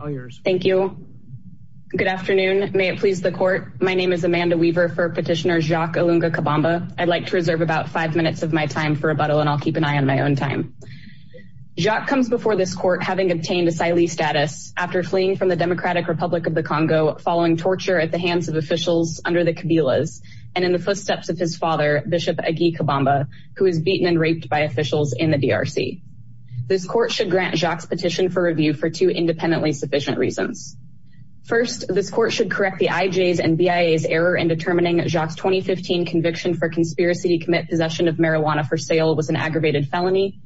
All yours. Thank you. Good afternoon. May it please the court. My name is Amanda Weaver for petitioner Jacques Ilunga-Kabamba. I'd like to reserve about five minutes of my time for rebuttal and I'll keep an eye on my own time. Jacques comes before this court having obtained asylee status after fleeing from the Democratic Republic of the Congo following torture at the hands of officials under the Kabilas and in the footsteps of his father, Bishop Agui Kabamba, who was beaten and raped by officials in the DRC. This court should grant Jacques petition for review for two independently sufficient reasons. First, this court should correct the IJ's and BIA's error in determining Jacques' 2015 conviction for conspiracy to commit possession of marijuana for sale was an aggravated felony.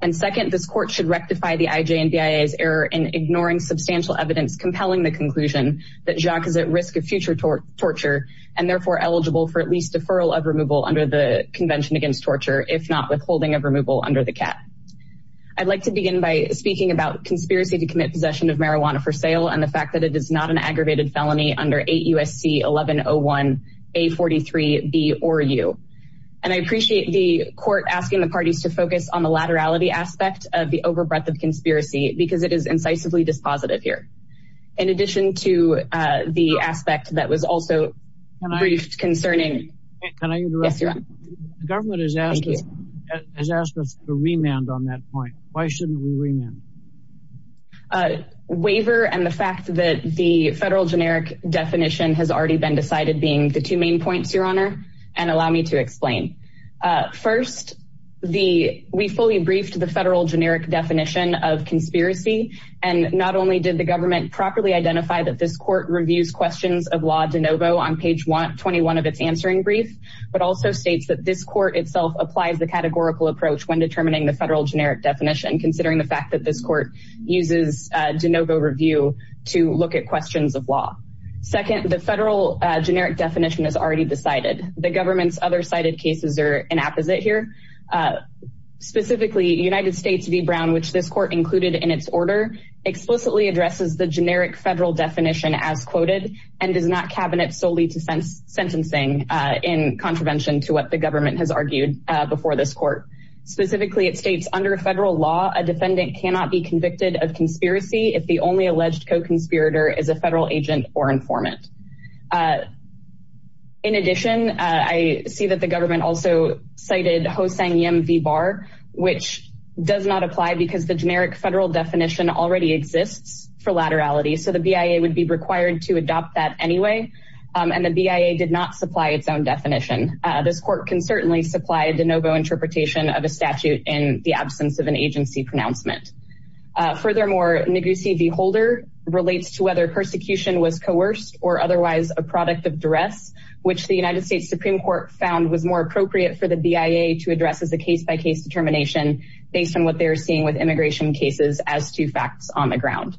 And second, this court should rectify the IJ and BIA's error in ignoring substantial evidence compelling the conclusion that Jacques is at risk of future torture and therefore eligible for at least deferral of removal under the Convention Against Torture, if not withholding of removal under the CAT. I'd like to begin by speaking about conspiracy to commit possession of marijuana for sale and the fact that it is not an aggravated felony under 8 U.S.C. 1101-A43-B-OR-U. And I appreciate the court asking the parties to focus on the laterality aspect of the overbreadth of conspiracy because it is incisively dispositive here. In addition to the aspect that was also brief concerning. Can I interrupt? Yes, you're on. The government has asked us to remand on that point. Why shouldn't we remand? Waiver and the fact that the federal generic definition has already been decided being the two main points, your honor, and allow me to explain. First, we fully briefed the federal generic definition of conspiracy. And not only did the government properly identify that this court reviews questions of law de novo on page 121 of its answering brief, but also states that this court itself applies the categorical approach when determining the federal generic definition, considering the fact that this court uses de novo review to look at questions of law. Second, the federal generic definition is already decided. The government's other cited cases are an apposite here. Specifically, United States v. Brown, which this court included in its order, explicitly addresses the generic federal definition as quoted and does not cabinet solely to sentencing in contravention to what the government has argued before this court. Specifically, it states under federal law, a defendant cannot be convicted of conspiracy. If the only alleged co-conspirator is a federal agent or informant. In addition, I see that the government also cited Ho-Sang Yim v. Barr, which does not apply because the generic federal definition already exists for laterality. So the BIA would be required to adopt that anyway, and the BIA did not supply its own definition. This court can certainly supply de novo interpretation of a statute in the absence of an agency pronouncement. Furthermore, Negussi v. Holder relates to whether persecution was coerced or otherwise a product of duress, which the United States Supreme Court found was more appropriate for the BIA to address as a case-by-case determination based on what they're seeing with immigration cases as two facts on the ground.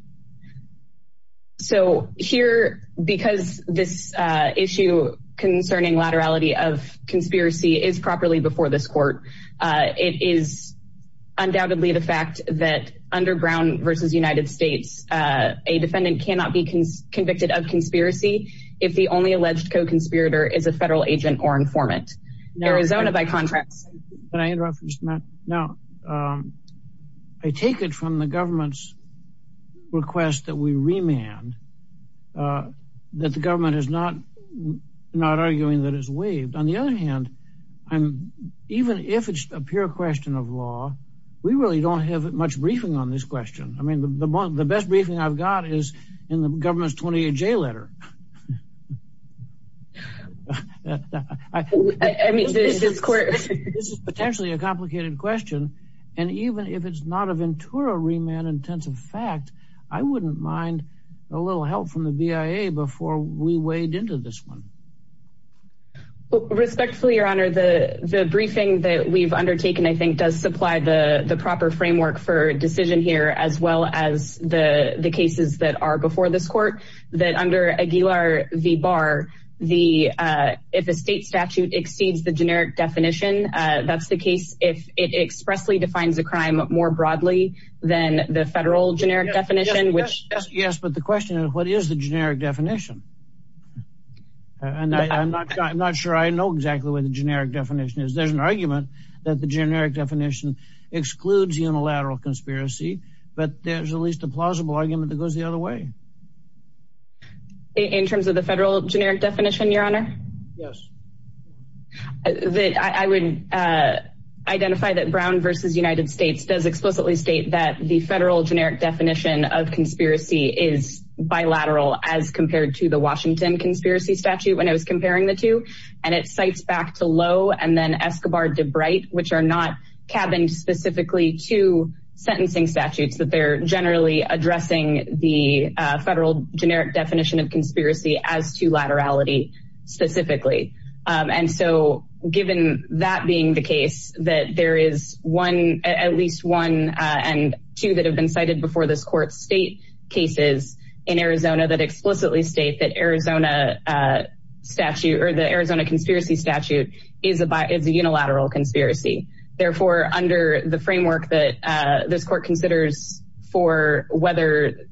So here, because this issue concerning laterality of conspiracy is properly before this court. It is undoubtedly the fact that underground versus United States a defendant cannot be convicted of conspiracy. If the only alleged co-conspirator is a federal agent or informant. Arizona, by contrast. Can I interrupt for just a minute? Now, I take it from the government's request that we remand that the government is not on the other hand. I'm even if it's a pure question of law. We really don't have much briefing on this question. I mean the best briefing I've got is in the government's 28J letter. Potentially a complicated question. And even if it's not a Ventura remand intensive fact, I wouldn't mind a little help from the BIA before we weighed into this one. Respectfully, Your Honor, the briefing that we've undertaken, I think does supply the proper framework for decision here as well as the cases that are before this court that under Aguilar v. Barr, if a state statute exceeds the generic definition, that's the case. If it expressly defines a crime more broadly than the federal generic definition, which. Yes, but the question is what is the generic definition? And I'm not sure I know exactly what the generic definition is. There's an argument that the generic definition excludes unilateral conspiracy, but there's at least a plausible argument that goes the other way. In terms of the federal generic definition, Your Honor? Yes. That I would identify that Brown v. United States does explicitly state that the federal generic definition of conspiracy is bilateral as compared to the Washington conspiracy statute when I was comparing the two, and it cites back to Lowe and then Escobar v. DeBrite, which are not cabined specifically to sentencing statutes that they're generally addressing the federal generic definition of conspiracy as to laterality specifically. And so given that being the case that there is one at least one and two that have been cited before this court, state that Arizona statute or the Arizona conspiracy statute is a unilateral conspiracy. Therefore, under the framework that this court considers for whether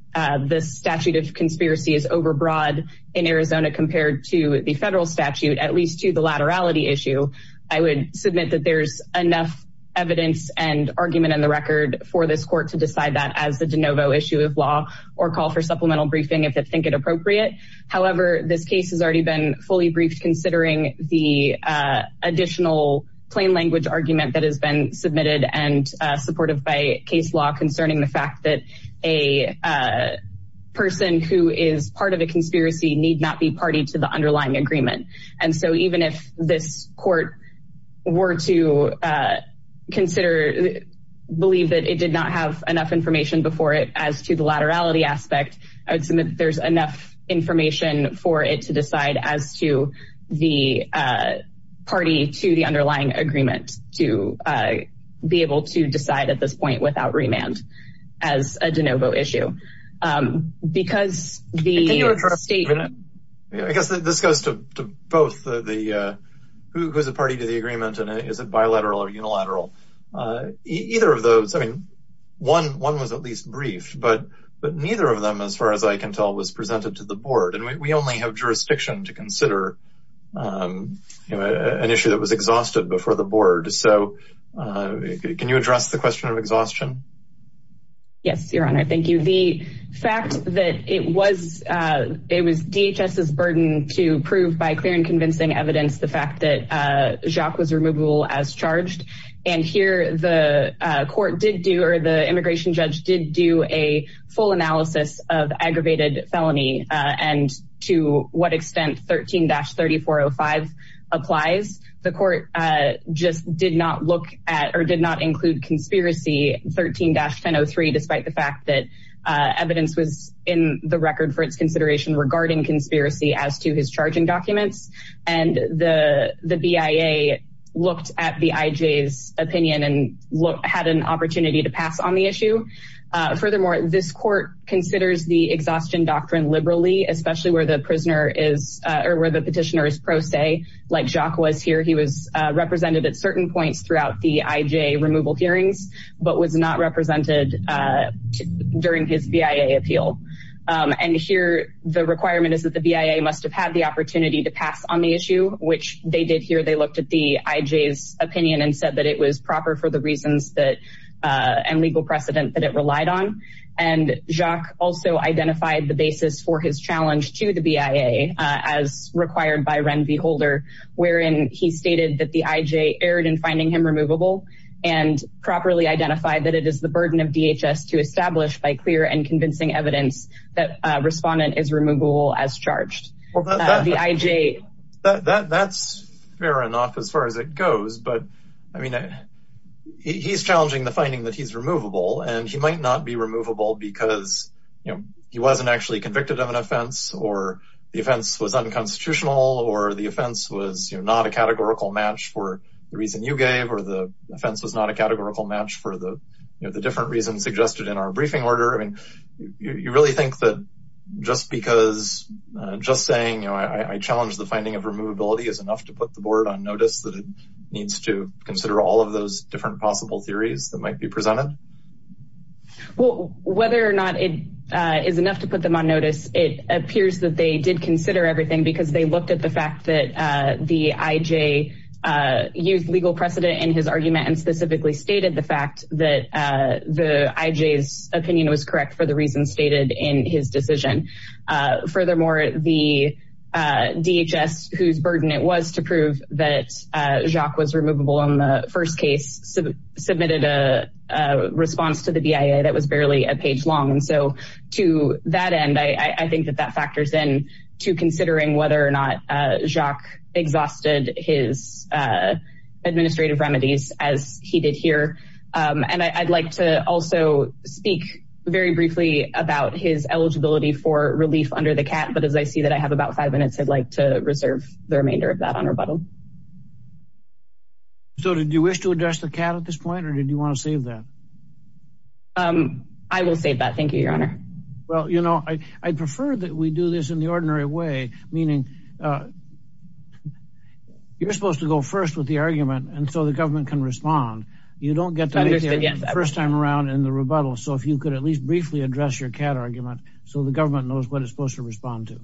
this statute of conspiracy is overbroad in Arizona compared to the federal statute, at least to the laterality issue, I would submit that there's enough evidence and argument in the record for this court to decide that as the de novo issue of law or call for supplemental briefing if they think it appropriate. However, this case has already been fully briefed considering the additional plain language argument that has been submitted and supportive by case law concerning the fact that a person who is part of a conspiracy need not be party to the underlying agreement. And so even if this court were to consider believe that it did not have enough information before it as to the laterality aspect, I would submit there's enough information for it to decide as to the party to the underlying agreement to be able to decide at this point without remand as a de novo issue because the state. I guess this goes to both the who's a party to the agreement and is it bilateral or unilateral either of those. One was at least brief, but neither of them as far as I can tell was presented to the board and we only have jurisdiction to consider an issue that was exhausted before the board. So can you address the question of exhaustion? Yes, Your Honor. Thank you. The fact that it was it was DHS's burden to prove by clear and convincing evidence the fact that Jacques was removable as charged and here the court did do or the immigration judge did do a full analysis of aggravated felony and to what extent 13-3405 applies the court just did not look at or did not include conspiracy 13-1003 despite the fact that evidence was in the record for its consideration regarding conspiracy as to his charging documents and the the BIA looked at the IJ's opinion and had an opportunity to pass on the issue. Furthermore, this court considers the exhaustion doctrine liberally, especially where the prisoner is or where the petitioner is pro se like Jacques was here. He was represented at certain points throughout the IJ removal hearings, but was not represented during his BIA appeal and here the requirement is that the BIA must have had the opportunity to pass on the issue which they did here. They looked at the IJ's opinion and said that it was proper for the reasons that and legal precedent that it relied on and Jacques also identified the basis for his challenge to the BIA as required by Ren V Holder wherein he stated that the IJ erred in finding him removable and properly identified that it is the burden of DHS to establish by clear and convincing evidence that respondent is removable as charged. The IJ that's fair enough as far as it goes, but I mean he's challenging the finding that he's removable and he might not be removable because you know, he wasn't actually convicted of an offense or the offense was unconstitutional or the offense was not a categorical match for the reason you gave or the offense was not a categorical match for the different reasons suggested in our briefing order. I mean, you really think that just because just saying I challenge the finding of removability is enough to put the board on notice that it needs to consider all of those different possible theories that might be presented? Well, whether or not it is enough to put them on notice. It appears that they did consider everything because they looked at the fact that the IJ used legal precedent in his argument and specifically stated the fact that the IJ's opinion was correct for the reasons stated in his decision. Furthermore, the DHS, whose burden it was to prove that Jacques was removable in the first case, submitted a response to the BIA that was barely a page long. And so to that end, I think that that factors in to considering whether or not Jacques exhausted his administrative remedies as he did here. And I'd like to also speak very briefly about his eligibility for relief under the CAT, but as I see that I have about five minutes, I'd like to reserve the remainder of that on rebuttal. So did you wish to address the CAT at this point or did you want to save that? I will save that. Thank you, Your Honor. Well, you know, I'd prefer that we do this in the ordinary way, meaning you're supposed to go first with the argument and so the government can respond. You don't get to make it the first time around in the rebuttal. So if you could at least briefly address your CAT argument so the government knows what it's supposed to respond to.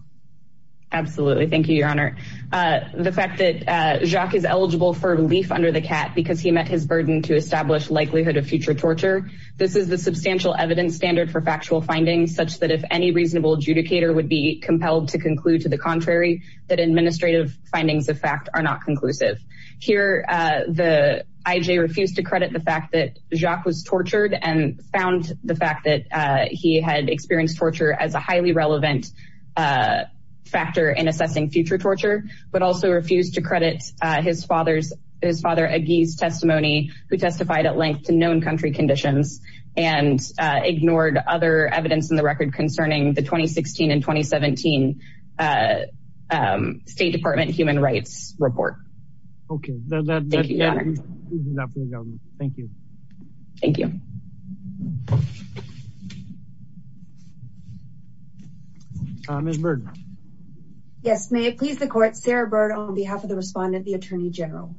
Thank you, Your Honor. The fact that Jacques is eligible for relief under the CAT because he met his burden to establish likelihood of future torture. This is the substantial evidence standard for factual findings such that if any reasonable adjudicator would be compelled to conclude to the contrary that administrative findings of fact are not conclusive. Here, the IJ refused to credit the fact that Jacques was tortured and found the fact that he had experienced torture as a highly relevant factor in assessing future torture, but also refused to credit his father's, his father Agui's testimony who testified at length to known country conditions and ignored other evidence in the record concerning the 2016 and 2017 State Department Human Rights Report. Okay. Thank you. Thank you. Thank you. Ms. Bird. Yes, may it please the court, Sarah Bird on behalf of the respondent, the Attorney General.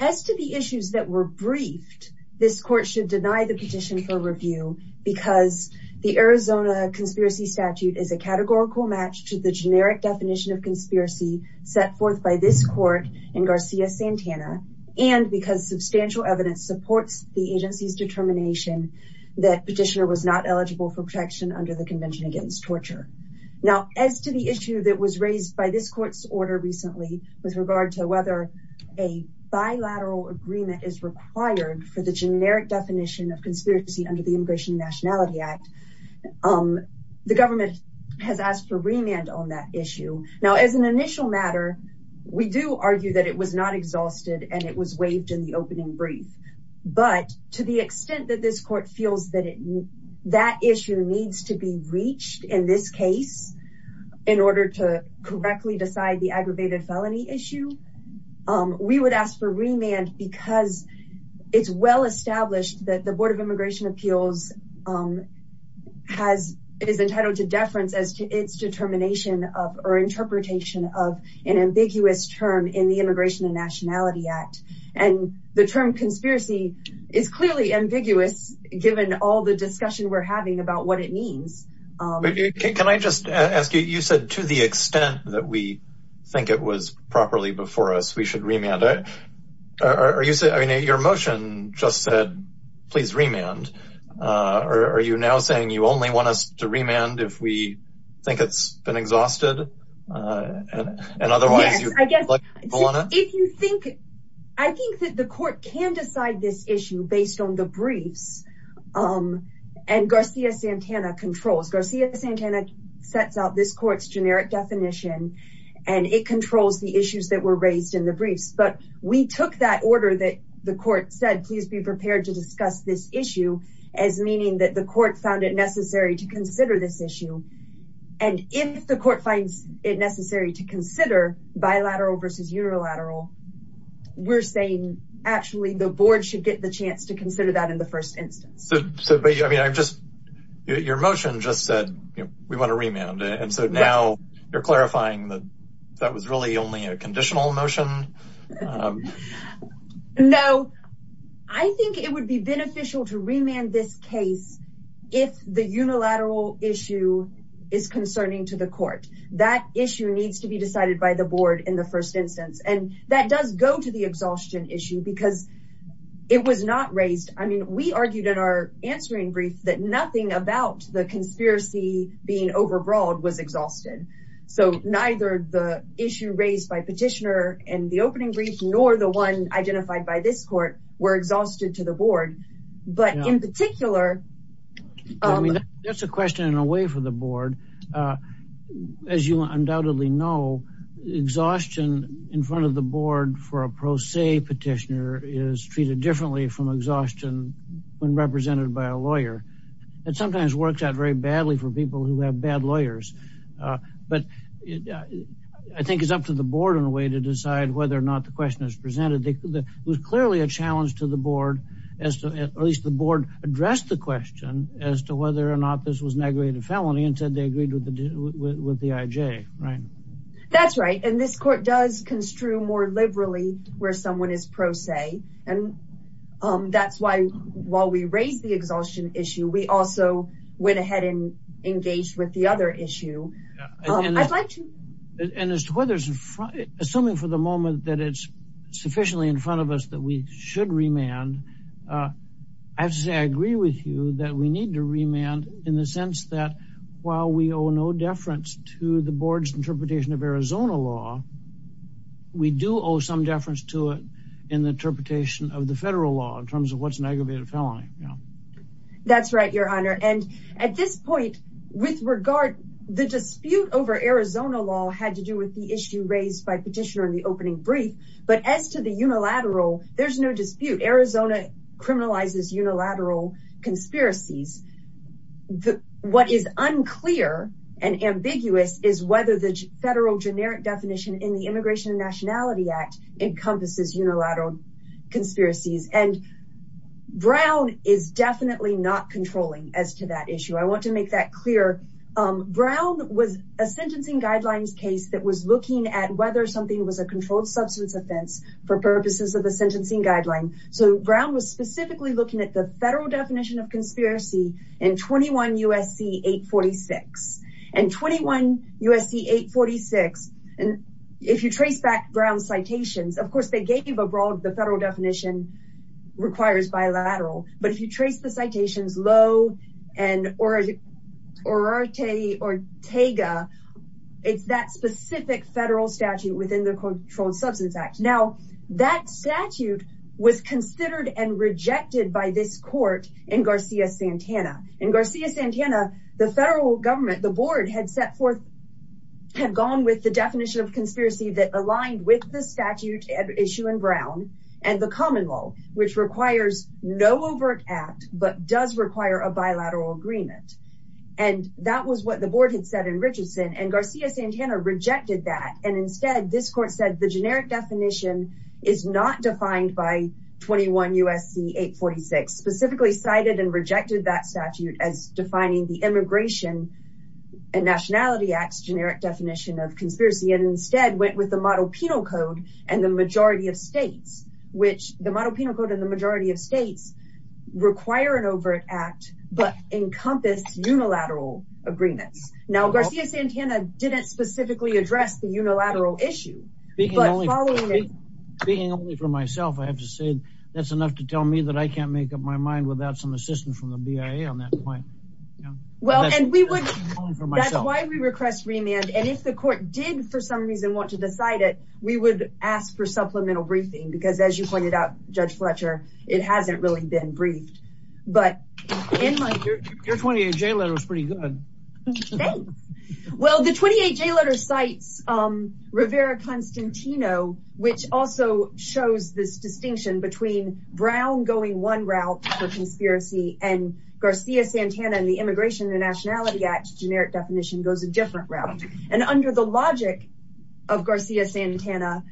As to the issues that were briefed, this court should deny the petition for review because the Arizona Conspiracy Statute is a categorical match to the generic definition of conspiracy set forth by this court in Garcia-Santana and because substantial evidence supports the agency's determination that petitioner was not eligible for protection under the Convention Against Torture. Now, as to the issue that was raised by this court's order recently with regard to whether a bilateral agreement is required for the generic definition of conspiracy under the Immigration and Nationality Act, the government has asked for remand on that issue. Now, as an initial matter, we do argue that it was not exhausted and it was waived in the opening brief, but to the extent that this court feels that it, that issue needs to be reached in this case in order to correctly decide the aggravated felony issue, we would ask for remand because it's well established that the Board of Immigration Appeals has, is entitled to deference as to its determination of or ambiguous term in the Immigration and Nationality Act and the term conspiracy is clearly ambiguous given all the discussion we're having about what it means. Can I just ask you, you said to the extent that we think it was properly before us, we should remand it. Are you saying, I mean, your motion just said, please remand, or are you now saying you only want us to remand if we think it's been exhausted and otherwise you want to? Yes, I guess if you think, I think that the court can decide this issue based on the briefs and Garcia-Santana controls. Garcia-Santana sets out this court's generic definition and it controls the issues that were raised in the briefs, but we took that order that the court said, please be prepared to discuss this issue as meaning that the court found it necessary to consider this issue. And if the court finds it necessary to consider bilateral versus unilateral, we're saying actually the board should get the chance to consider that in the first instance. Your motion just said, we want to remand and so now you're clarifying that that was really only a conditional motion. No, I think it would be beneficial to remand this case if the unilateral issue is concerning to the court. That issue needs to be decided by the board in the first instance and that does go to the exhaustion issue because it was not raised. I mean, we argued in our answering brief that nothing about the conspiracy being overbroad was exhausted. So neither the issue raised by petitioner and the opening brief nor the one identified by this court were exhausted to the board, but in particular, that's a question in a way for the board. As you undoubtedly know, exhaustion in front of the board for a pro se petitioner is treated differently from exhaustion when represented by a lawyer that sometimes works out very badly for people who have bad lawyers, but I think it's up to the board in a way to decide whether or not the question is presented. It was clearly a challenge to the board as to at least the board addressed the question as to whether or not this was an aggravated felony and said they agreed with the IJ, right? That's right. And this court does construe more liberally where someone is pro se and that's why while we raised the exhaustion issue, we also went ahead and engaged with the other issue. I'd like to... And as to whether, assuming for the moment that it's sufficiently in front of us that we should remand, I have to say I agree with you that we need to remand in the sense that while we owe no deference to the board's interpretation of Arizona law, we do owe some deference to it in the interpretation of the federal law in terms of what's an aggravated felony. That's right, your honor. And at this point with regard, the dispute over Arizona law had to do with the issue raised by petitioner in the opening brief, but as to the unilateral, there's no dispute. Arizona criminalizes unilateral conspiracies. What is unclear and ambiguous is whether the federal generic definition in the Immigration and Nationality Act encompasses unilateral conspiracies and Brown is definitely not controlling as to that issue. I want to make that clear. Brown was a sentencing guidelines case that was looking at whether something was a controlled substance offense for purposes of the sentencing guideline. So Brown was specifically looking at the federal definition of conspiracy in 21 USC 846. And 21 USC 846, and if you trace back Brown's citations, of course, they gave abroad the federal definition requires bilateral, but if you trace the citations low and or Ortega, it's that specific federal statute within the Controlled Substance Act. Now that statute was considered and rejected by this court in Garcia-Santana. In Garcia-Santana, the federal government, the board had set forth, had gone with the definition of conspiracy that aligned with the statute issue in Brown and the common law, which requires no overt act, but does require a bilateral agreement. And that was what the board had said in Richardson and Garcia-Santana rejected that and instead this court said the generic definition is not defined by 21 USC 846, specifically cited and rejected that statute as defining the immigration and Nationality Act's generic definition of conspiracy and instead went with the model penal code and the majority of states, which the model penal code and the majority of states require an overt act, but encompassed unilateral agreements. Now Garcia-Santana didn't specifically address the unilateral issue. Speaking only for myself. I have to say that's enough to tell me that I can't make up my mind without some assistance from the BIA on that point. Well, and we would that's why we request remand and if the court did for some reason want to decide it, we would ask for supplemental briefing because as you pointed out Judge Fletcher, it hasn't really been briefed, but in my 28 J letter is pretty good. Well, the 28 J letter cites Rivera-Constantino, which also shows this distinction between Brown going one route for conspiracy and Garcia-Santana and the immigration and Nationality Act generic definition goes a different route and under the logic of Garcia-Santana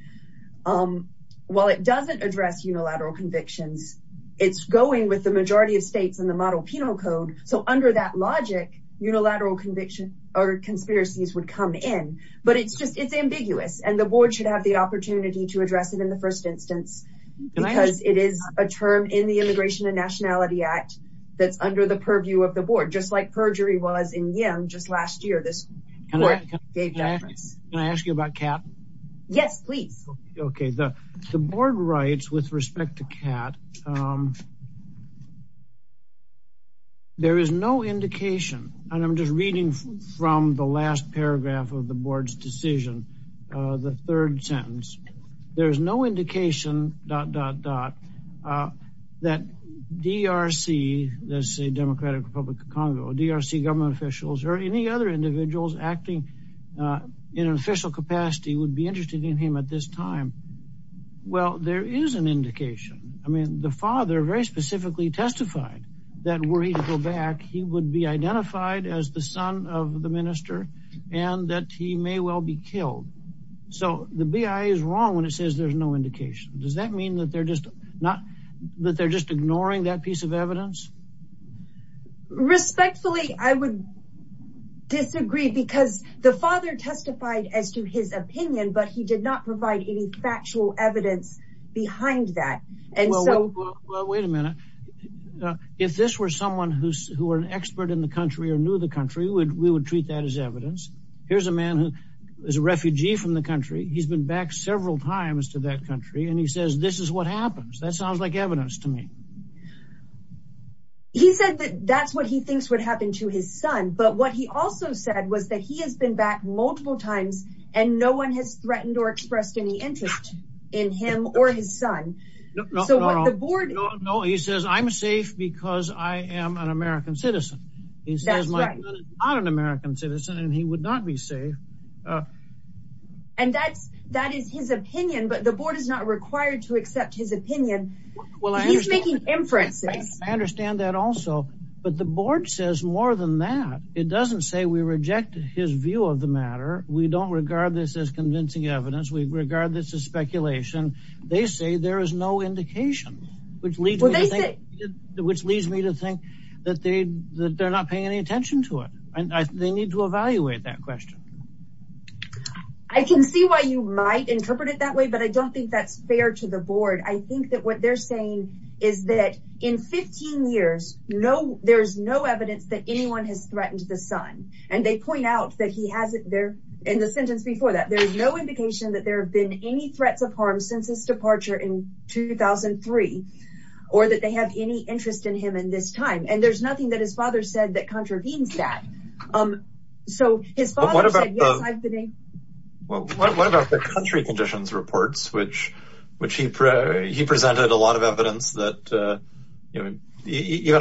while it doesn't address unilateral convictions, it's going with the majority of states in the model penal code. So under that logic unilateral conviction or conspiracies would come in, but it's just it's ambiguous and the board should have the opportunity to address it in the first instance because it is a term in the immigration and Nationality Act that's under the purview of the board. Just like perjury was in Yim just last year. This Can I ask you about CAP? Yes, please. Okay, the board writes with respect to CAP. There is no indication and I'm just reading from the last paragraph of the board's decision. The third sentence, there is no indication dot dot dot that DRC, that's a Democratic Republic of Congo, DRC government officials or any other individuals acting in official capacity would be interested in him at this time. Well, there is an indication. I mean the father very specifically testified that were he to go back, he would be identified as the son of the minister and that he may well be killed. So the BIA is wrong when it says there's no indication. Does that mean that they're just not that they're just ignoring that piece of evidence? Respectfully, I would disagree because the father testified as to his opinion, but he did not provide any factual evidence behind that. And so wait a minute. If this were someone who's who are an expert in the country or knew the country would we would treat that as evidence. Here's a man who is a refugee from the country. He's been back several times to that country and he says this is what happens. That sounds like evidence to me. He said that that's what he thinks would happen to his son but what he also said was that he has been back multiple times and no one has threatened or expressed any interest in him or his son. So what the board. No, he says I'm safe because I am an American citizen. He says my son is not an American citizen and he would not be safe. And that's that is his opinion. But the board is not required to accept his opinion. Well, he's making inferences. I understand that also but the board says more than that. It doesn't say we reject his view of the matter. We don't regard this as convincing evidence. We regard this as speculation. They say there is no indication which leads me to think which leads me to think that they that they're not paying any attention to it. And I think they need to evaluate that question. I can see why you might interpret it that way, but I don't think that's fair to the board. I think that what they're saying is that in 15 years, no, there's no evidence that anyone has threatened the son and they point out that he hasn't there in the sentence before that. There's no indication that there have been any threats of harm since his departure in 2003 or that they have any interest in him in this time. And there's nothing that his father said that contravenes that. So his father said, yes, I've been a well, what about the country conditions reports, which which he presented a lot of evidence that even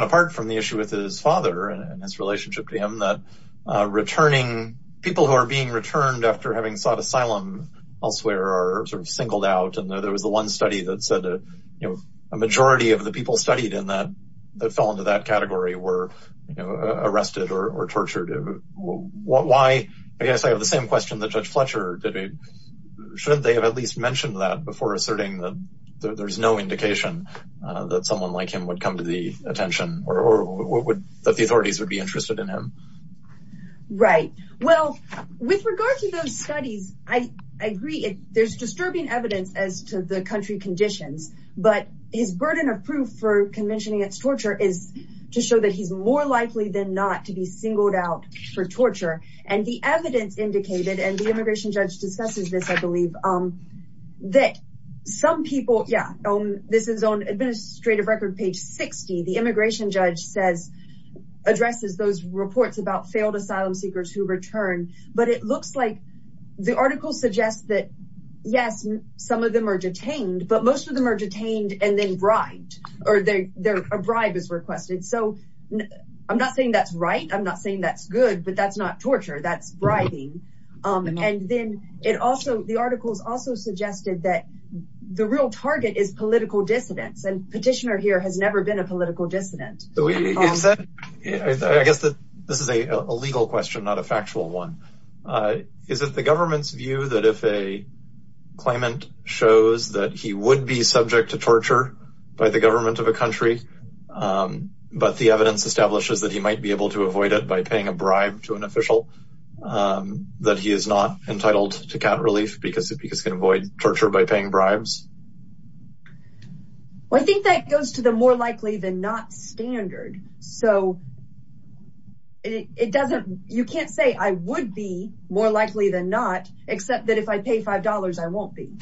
apart from the issue with his father and his relationship to him that returning people who are being returned after having sought asylum elsewhere are sort of singled out. And there was the one study that said, you know, a majority of the people studied in that that fell into that category were arrested or tortured. Why? I guess I have the same question that Judge Fletcher did. Shouldn't they have at least mentioned that before asserting that there's no indication that someone like him would come to the attention or would that the authorities would be interested in him? Right. Well, with regard to those studies, I agree. There's disturbing evidence as to the country conditions, but his burden of proof for convention against torture is to show that he's more likely than not to be singled out for torture and the evidence indicated and the immigration judge discusses this, I believe that some people, yeah, this is on administrative record page 60, the immigration judge says addresses those reports about failed asylum seekers who return, but it looks like the article suggests that yes, some of them are detained, but most of them are detained and then bribed or a bribe is requested. So I'm not saying that's right. I'm not saying that's good, but that's not torture. That's bribing. And then it also, the articles also suggested that the real target is political dissidence and petitioner here has never been a political dissident. I guess that this is a legal question, not a factual one. Is it the government's view that if a claimant shows that he would be subject to torture by the government of a country, but the evidence establishes that he might be able to avoid it by paying a bribe to an official that he is not entitled to count relief because it because can avoid torture by paying bribes. I think that goes to the more likely than not standard. So it doesn't, you can't say I would be more likely than not except that if I pay five dollars, I won't be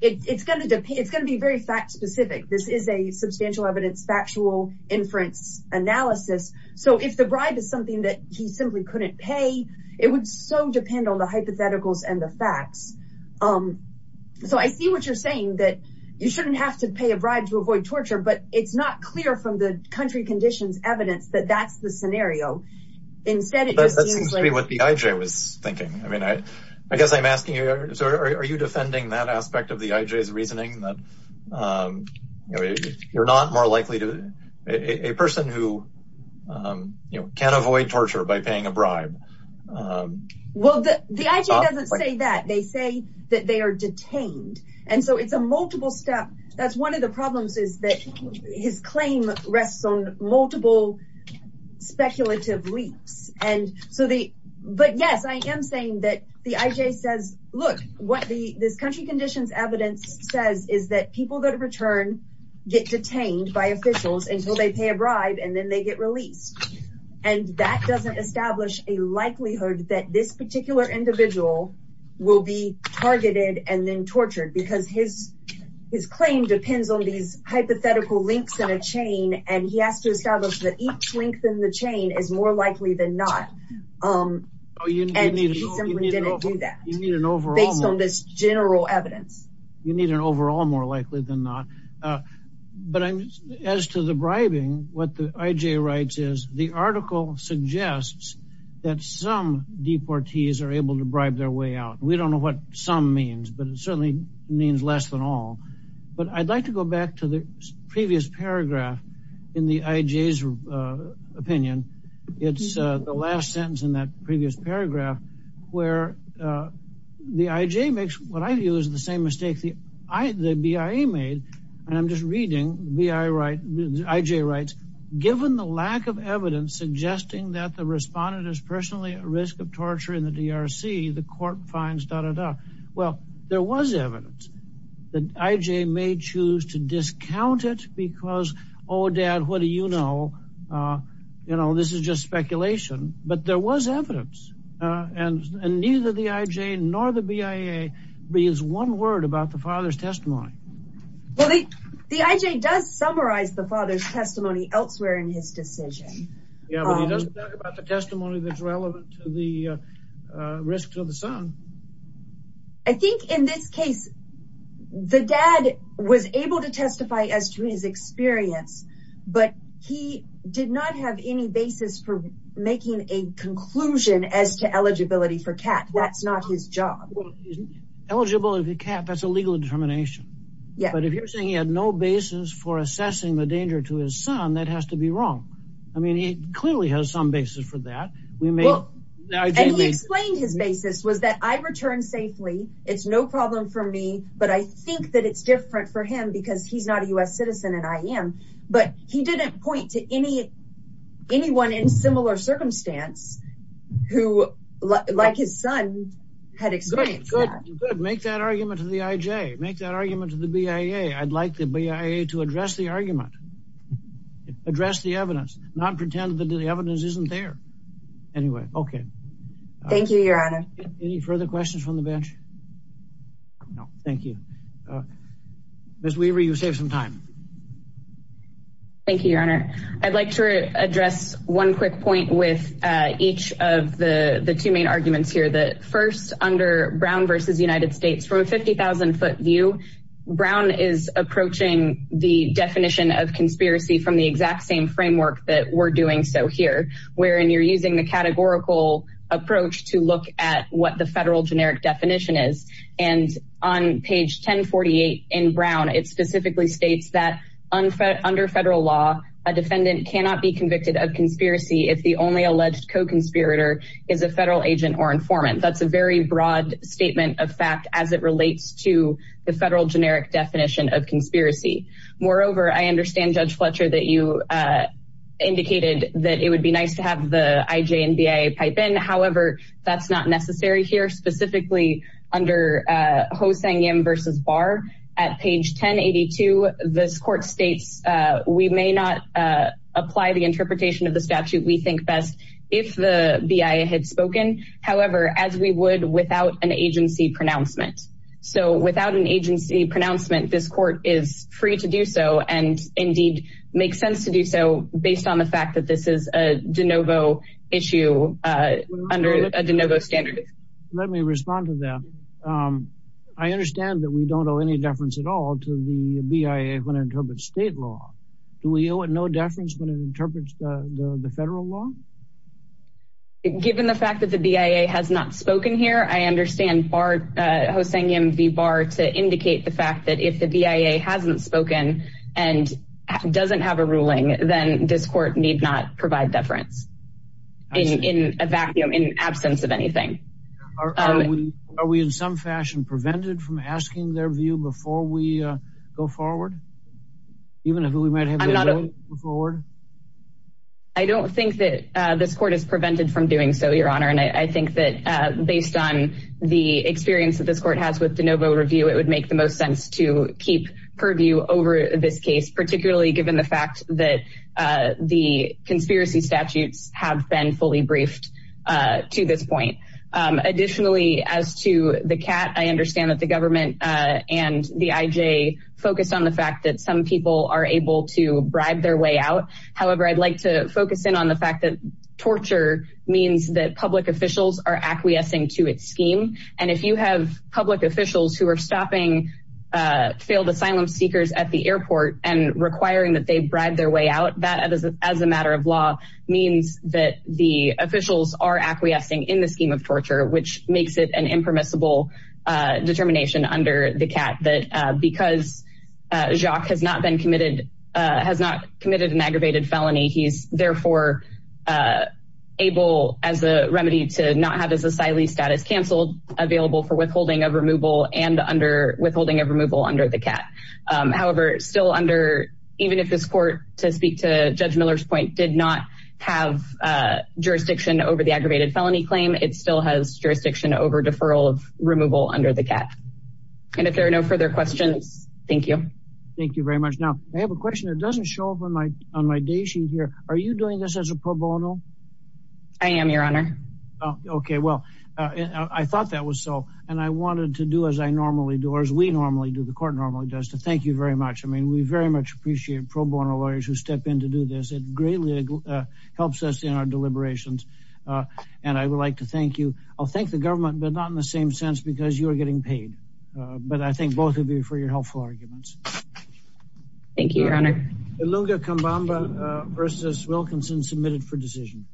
it's going to depend. It's going to be very fact-specific. This is a substantial evidence factual inference analysis. So if the bribe is something that he simply couldn't pay, it would so depend on the hypotheticals and the facts. So I see what you're saying that you shouldn't have to pay a bribe to avoid torture, but it's not clear from the country conditions evidence that that's the scenario. Instead, it seems to be what the IJ was thinking. I mean, I guess I'm asking you. So are you defending that aspect of the IJ's reasoning that you're not more likely to a person who can't avoid torture by paying a bribe Well, the IJ doesn't say that. They say that they are detained and so it's a multiple step. That's one of the problems is that his claim rests on multiple speculative leaps. And so the but yes, I am saying that the IJ says look what the this country conditions evidence says is that people that return get detained by officials until they pay a bribe and then they get released and that doesn't establish a likelihood that this particular individual will be targeted and then tortured because his his claim depends on these hypothetical links in a chain and he has to establish that each link in the chain is more likely than not. And he simply didn't do that. You need an overall more likely than not. You need an overall more likely than not. But as to the bribing what the IJ writes is the article suggests that some deportees are able to bribe their way out. We don't know what some means but it certainly means less than all but I'd like to go back to the previous paragraph in the IJ's opinion. It's the last sentence in that previous paragraph where the IJ makes what I view is the same mistake the I the BIA made and I'm just reading the I right IJ rights given the lack of evidence suggesting that the respondent is personally at risk of torture in the DRC the court finds da da da. Well, there was evidence that IJ may choose to discount it because oh dad, what do you know? You know, this is just speculation, but there was evidence and neither the IJ nor the BIA reads one word about the father's testimony. Well, the IJ does summarize the father's testimony elsewhere in his decision. Yeah, but he doesn't talk about the testimony that's relevant to the risk to the son. I think in this case the dad was able to testify as to his experience but he did not have any basis for making a conclusion as to eligibility for cat. That's not his job. Eligibility for cat, that's a legal determination. Yeah, but if you're saying he had no basis for assessing the danger to his son, that has to be wrong. I mean, he clearly has some basis for that. We may And he explained his basis was that I returned safely. It's no problem for me, but I think that it's different for him because he's not a US citizen and I am but he didn't point to any anyone in similar circumstance who like his son had experienced that. Good, make that argument to the IJ, make that argument to the BIA. I'd like the BIA to address the argument. Address the evidence, not pretend that the evidence isn't there. Anyway, okay. Thank you, Your Honor. Any further questions from the bench? No, thank you. Ms. Weaver, you saved some time. Thank you, Your Honor. I'd like to address one quick point with each of the two main versus United States from a 50,000 foot view. Brown is approaching the definition of conspiracy from the exact same framework that we're doing. So here, wherein you're using the categorical approach to look at what the federal generic definition is. And on page 1048 in Brown, it specifically states that under federal law, a defendant cannot be convicted of conspiracy. If the only alleged co-conspirator is a federal agent or informant. That's a very broad statement of fact as it relates to the federal generic definition of conspiracy. Moreover, I understand, Judge Fletcher, that you indicated that it would be nice to have the IJ and BIA pipe in. However, that's not necessary here, specifically under Ho-Sang Yim versus Barr. At page 1082, this court states, we may not apply the interpretation of the statute we think best if the BIA had spoken. However, as we would without an agency pronouncement. So without an agency pronouncement, this court is free to do so and indeed make sense to do so based on the fact that this is a de novo issue under a de novo standard. Let me respond to that. I understand that we don't owe any deference at all to the BIA when it interprets state law. Do we owe it no deference when it interprets the federal law? Given the fact that the BIA has not spoken here, I understand Barr, Ho-Sang Yim v. Barr to indicate the fact that if the BIA hasn't spoken and doesn't have a ruling, then this court need not provide deference in a vacuum, in absence of anything. Are we in some fashion prevented from asking their view before we go forward? Even if we might have the will to go forward? I don't think that this court is prevented from doing so, Your Honor, and I think that based on the experience that this court has with de novo review, it would make the most sense to keep purview over this case, particularly given the fact that the conspiracy statutes have been fully briefed to this point. Additionally, as to the CAT, I understand that the government and the IJ focused on the fact that some people are able to bribe their way out However, I'd like to focus in on the fact that torture means that public officials are acquiescing to its scheme. And if you have public officials who are stopping failed asylum seekers at the airport and requiring that they bribe their way out, that as a matter of law means that the officials are acquiescing in the scheme of torture, which makes it an impermissible determination under the CAT that because Jacques has not been committed, has not committed an aggravated felony. He's therefore able as a remedy to not have his asylee status canceled, available for withholding of removal and under withholding of removal under the CAT. However, still under, even if this court, to speak to Judge Miller's point, did not have jurisdiction over the aggravated felony claim, it still has jurisdiction over deferral of removal under the CAT. And if there are no further questions, thank you. Thank you very much. Now, I have a question. It doesn't show up on my, on my day sheet here. Are you doing this as a pro bono? I am, Your Honor. Okay. Well, I thought that was so, and I wanted to do as I normally do, or as we normally do, the court normally does, to thank you very much. I mean, we very much appreciate pro bono lawyers who step in to do this. It greatly helps us in our deliberations. And I would like to thank you. I'll thank the government, but not in the same sense because you are getting paid. But I think both of you for your helpful arguments. Thank you, Your Honor. Ilunga Kambamba versus Wilkinson, submitted for decision.